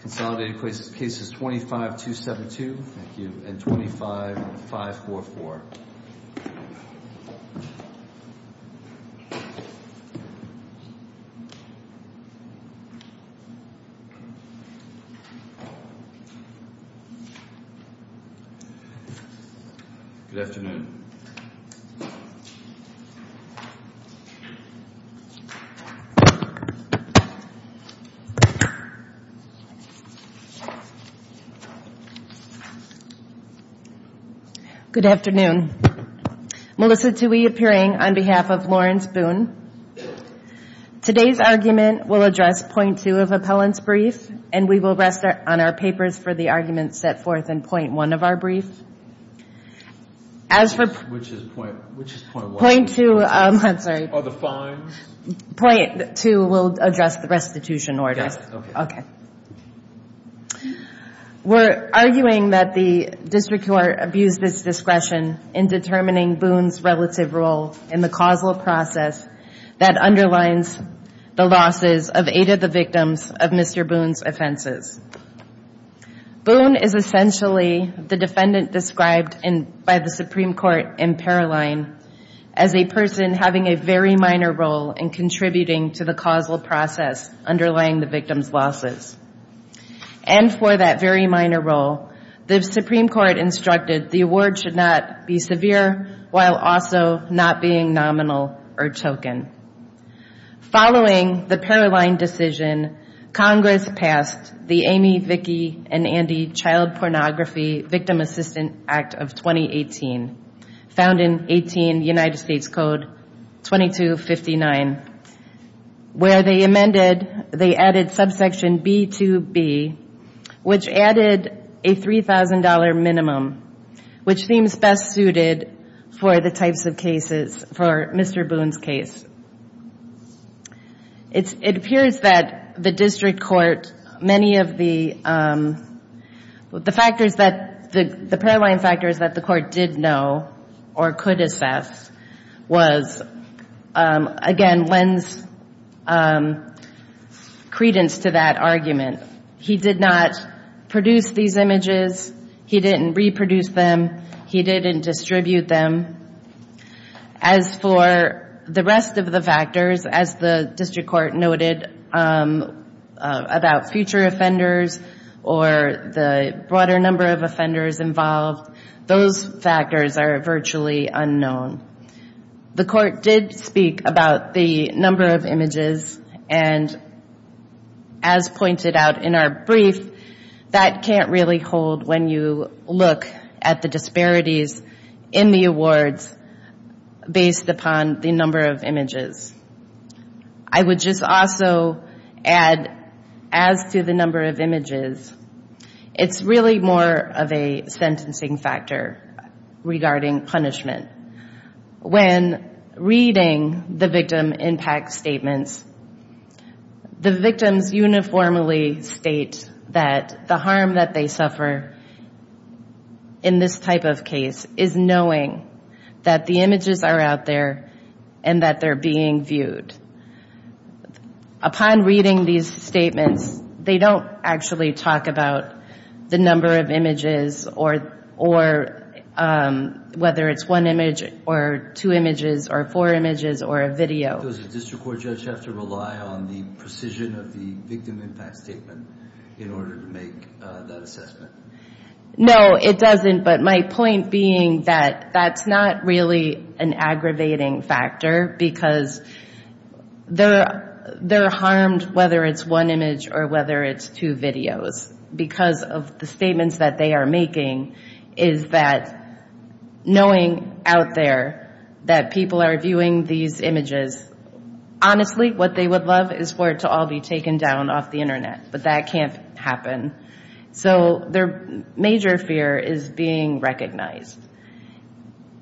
Consolidated Cases 25272 and 25544. Good afternoon. Melissa Toohey appearing on behalf of Lawrence Boone. Today's argument will address point two of appellant's brief, and we will rest on our papers for the arguments set forth in point one of our brief. Point two will address the restitution order. We're arguing that the district court abused its discretion in determining Boone's relative role in the causal process that underlines the losses of eight of the victims of Mr. Boone's offenses. Boone is essentially the defendant described by the Supreme Court in Paroline as a person having a very minor role in contributing to the causal process underlying the victim's losses. And for that very minor role, the Supreme Court instructed the award should not be severe, while also not being nominal or token. Following the Paroline decision, Congress passed the Amy, Vicki, and Andy Child Pornography Victim Assistance Act of 2018, found in 18 United States Code 2259, where they amended the Paroline decision. They added subsection B to B, which added a $3,000 minimum, which seems best suited for the types of cases for Mr. Boone's case. It appears that the district court, many of the factors that the Paroline factors that the court did know or could assess was, again, lends credence to that argument. He did not produce these images, he didn't reproduce them, he didn't distribute them. As for the rest of the factors, as the district court noted about future offenders or the broader number of offenders involved, those factors are the number of images, and as pointed out in our brief, that can't really hold when you look at the disparities in the awards based upon the number of images. I would just also add, as to the number of images, it's really more of a sentencing factor regarding punishment. When reading the victim impact statements, the victims uniformly state that the harm that they suffer in this type of case is knowing that the images are out there and that they're being viewed. Upon reading these statements, they don't actually talk about the number of images or whether it's one image or two images. Or four images or a video. No, it doesn't, but my point being that that's not really an aggravating factor, because they're harmed whether it's one image or whether it's two videos, because of the statements that they are making is that knowing out there that the victim impact statement is out there and that they're viewing these images, honestly, what they would love is for it to all be taken down off the internet, but that can't happen. So their major fear is being recognized.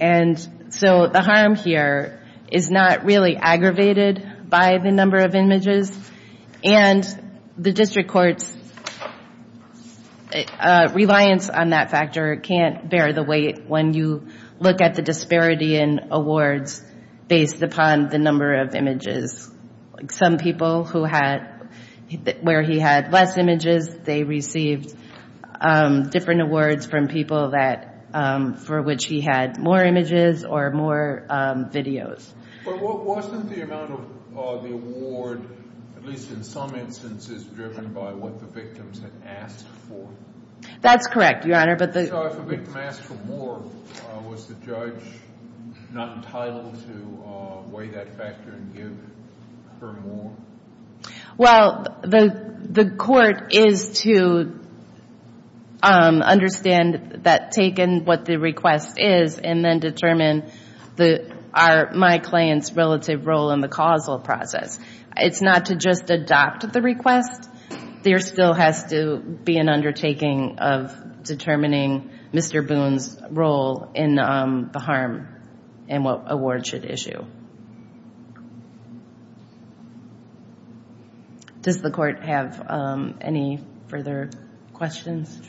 And so the harm here is not really aggravated by the number of images, and the district court's reliance on that factor can't bear the weight when you look at the disparity in awards based upon the number of images. Some people who had, where he had less images, they received different awards from people for which he had more images or more videos. But wasn't the amount of the award, at least in some instances, driven by what the victims had asked for? That's correct, Your Honor, but the... So if a victim asked for more, was the judge not entitled to weigh that factor and give her more? Well, the court is to understand that taken what the request is, and then determine my client's relative role in the causal process. It's not to just adopt the request, there still has to be an undertaking of determining Mr. Boone's role in the harm and what award should issue. Does the court have any further questions?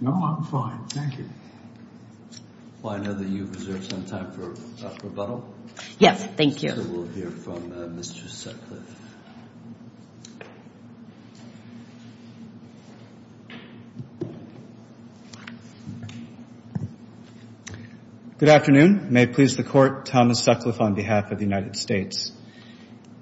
No, I'm fine, thank you. Well, I know that you've reserved some time for rebuttal. Good afternoon. May it please the Court, Thomas Sutcliffe on behalf of the United States.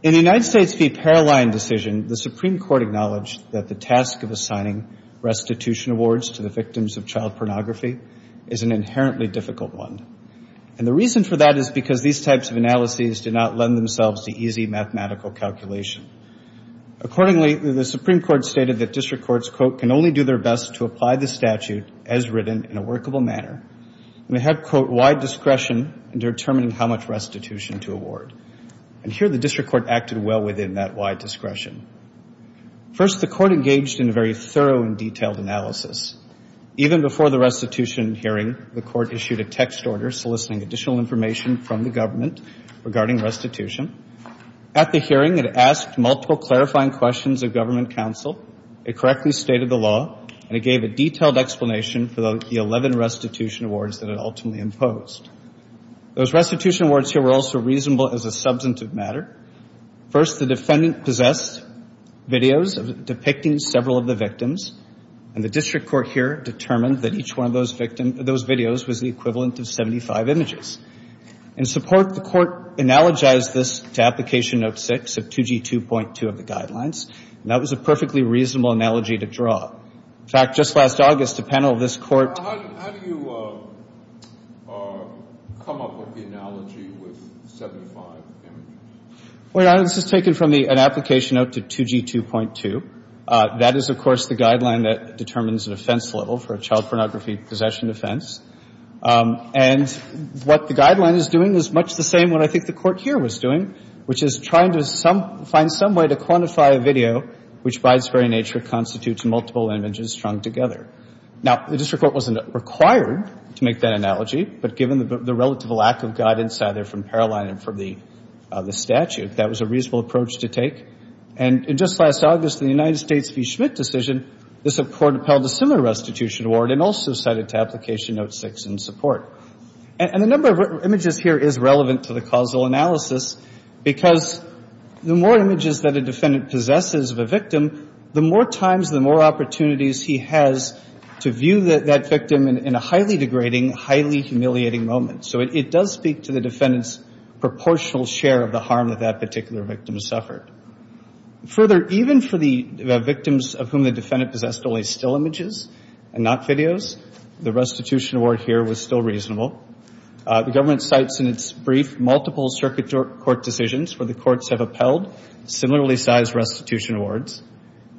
In the United States v. Paraline decision, the Supreme Court acknowledged that the task of assigning restitution awards to the victims of child pornography is a matter of the law. It is an inherently difficult one, and the reason for that is because these types of analyses do not lend themselves to easy mathematical calculation. Accordingly, the Supreme Court stated that district courts, quote, can only do their best to apply the statute as written in a workable manner. And they have, quote, wide discretion in determining how much restitution to award. And here the district court acted well within that wide discretion. First, the court engaged in a very thorough and detailed analysis. Even before the restitution hearing, the court issued a text order soliciting additional information from the government regarding restitution. At the hearing, it asked multiple clarifying questions of government counsel, it correctly stated the law, and it gave a detailed explanation for the 11 restitution awards that it ultimately imposed. Those restitution awards here were also reasonable as a substantive matter. The district court, in its analysis of the 11 videos depicting several of the victims, and the district court here determined that each one of those videos was the equivalent of 75 images. In support, the court analogized this to Application Note 6 of 2G2.2 of the Guidelines, and that was a perfectly reasonable analogy to draw. In fact, just last August, a panel of this court ---- How do you come up with the analogy with 75 images? Well, Your Honor, this is taken from an Application Note to 2G2.2. That is, of course, the guideline that determines an offense level for a child pornography possession offense. And what the guideline is doing is much the same what I think the court here was doing, which is trying to find some way to quantify a video which, by its very nature, constitutes multiple images strung together. Now, the district court wasn't required to make that analogy, but given the relative lack of guidance either from Paroline and from the district court, the court decided to make that analogy. And in support of that, the court appealed to the district court to approve the statute. That was a reasonable approach to take. And just last August, in the United States v. Schmidt decision, the court appealed a similar restitution award and also cited to Application Note 6 in support. And the number of images here is relevant to the causal analysis, because the more images that a defendant possesses of a victim, the more times and the more opportunities he has to view that victim in a highly degrading, highly humiliating moment. So it does speak to the defendant's proportional share of the harm that that particular victim suffered. Further, even for the victims of whom the defendant possessed only still images and not videos, the restitution award here was still reasonable. The government cites in its brief multiple circuit court decisions where the courts have appealed similarly sized restitution awards.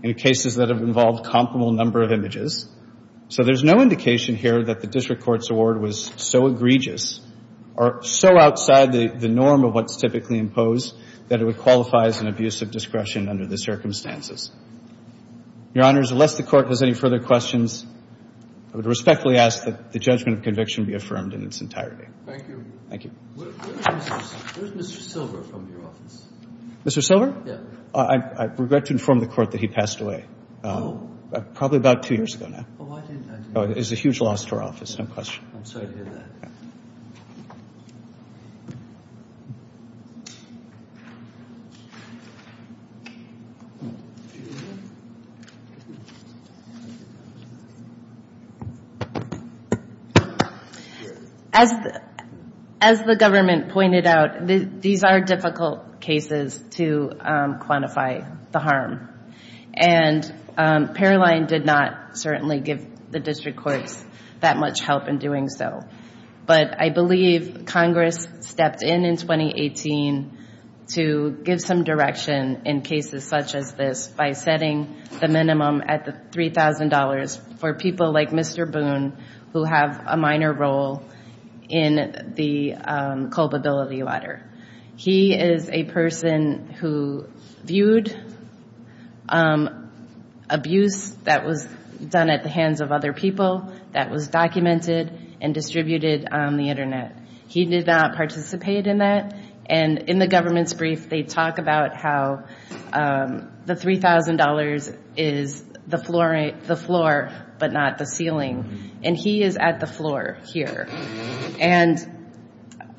In cases that have involved comparable number of images. So there's no indication here that the district court's award was so egregious or so outside the norm of what's typically imposed that it would qualify as an abuse of discretion under the circumstances. Your Honors, unless the court has any further questions, I would respectfully ask that the judgment of conviction be affirmed in its entirety. Thank you. Where is Mr. Silver from your office? Mr. Silver? I regret to inform the court that he passed away probably about two years ago now. It is a huge loss to our office, no question. As the government pointed out, these are difficult cases to quantify the harm. And Paroline did not certainly give the district courts that much help in doing so. But I believe Congress stepped in in 2018 to give some direction in cases such as this by setting the minimum at the $3,000 for people like Mr. Boone who have a minor role in the district court. He is a person who viewed abuse that was done at the hands of other people, that was documented and distributed on the Internet. He did not participate in that, and in the government's brief they talk about how the $3,000 is the floor but not the ceiling. And he is at the floor here. And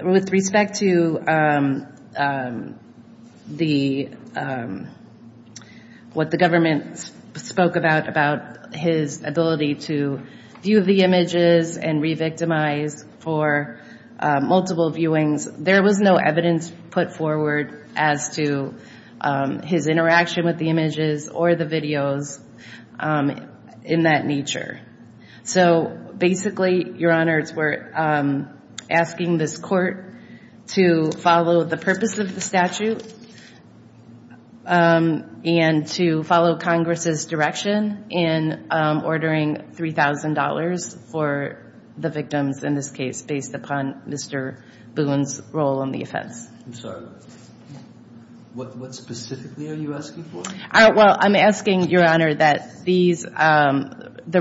with respect to what the government spoke about, about his ability to view the images and re-victimize for multiple viewings, there was no evidence put forward as to his interaction with the images or the videos in that nature. So basically, Your Honors, we're asking this court to follow the purpose of the statute and to follow Congress' direction in ordering $3,000 for the victims in this case based upon Mr. Boone's role in the offense. I'm sorry, what specifically are you asking for? Well, I'm asking, Your Honor, that the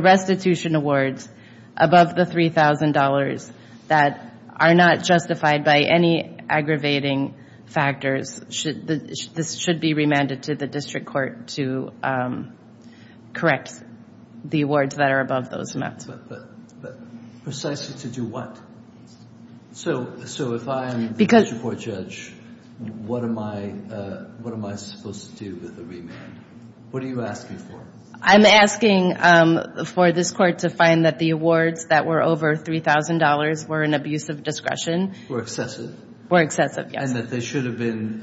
restitution awards above the $3,000 that are not justified by any aggravating factors, this should be remanded to the district court to correct the awards that are above those amounts. But precisely to do what? So if I'm the district court judge, what am I supposed to do with the remand? What are you asking for? I'm asking for this court to find that the awards that were over $3,000 were an abuse of discretion. Were excessive? Were excessive, yes. And that they should have been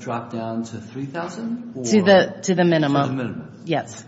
dropped down to $3,000? To the minimum, yes.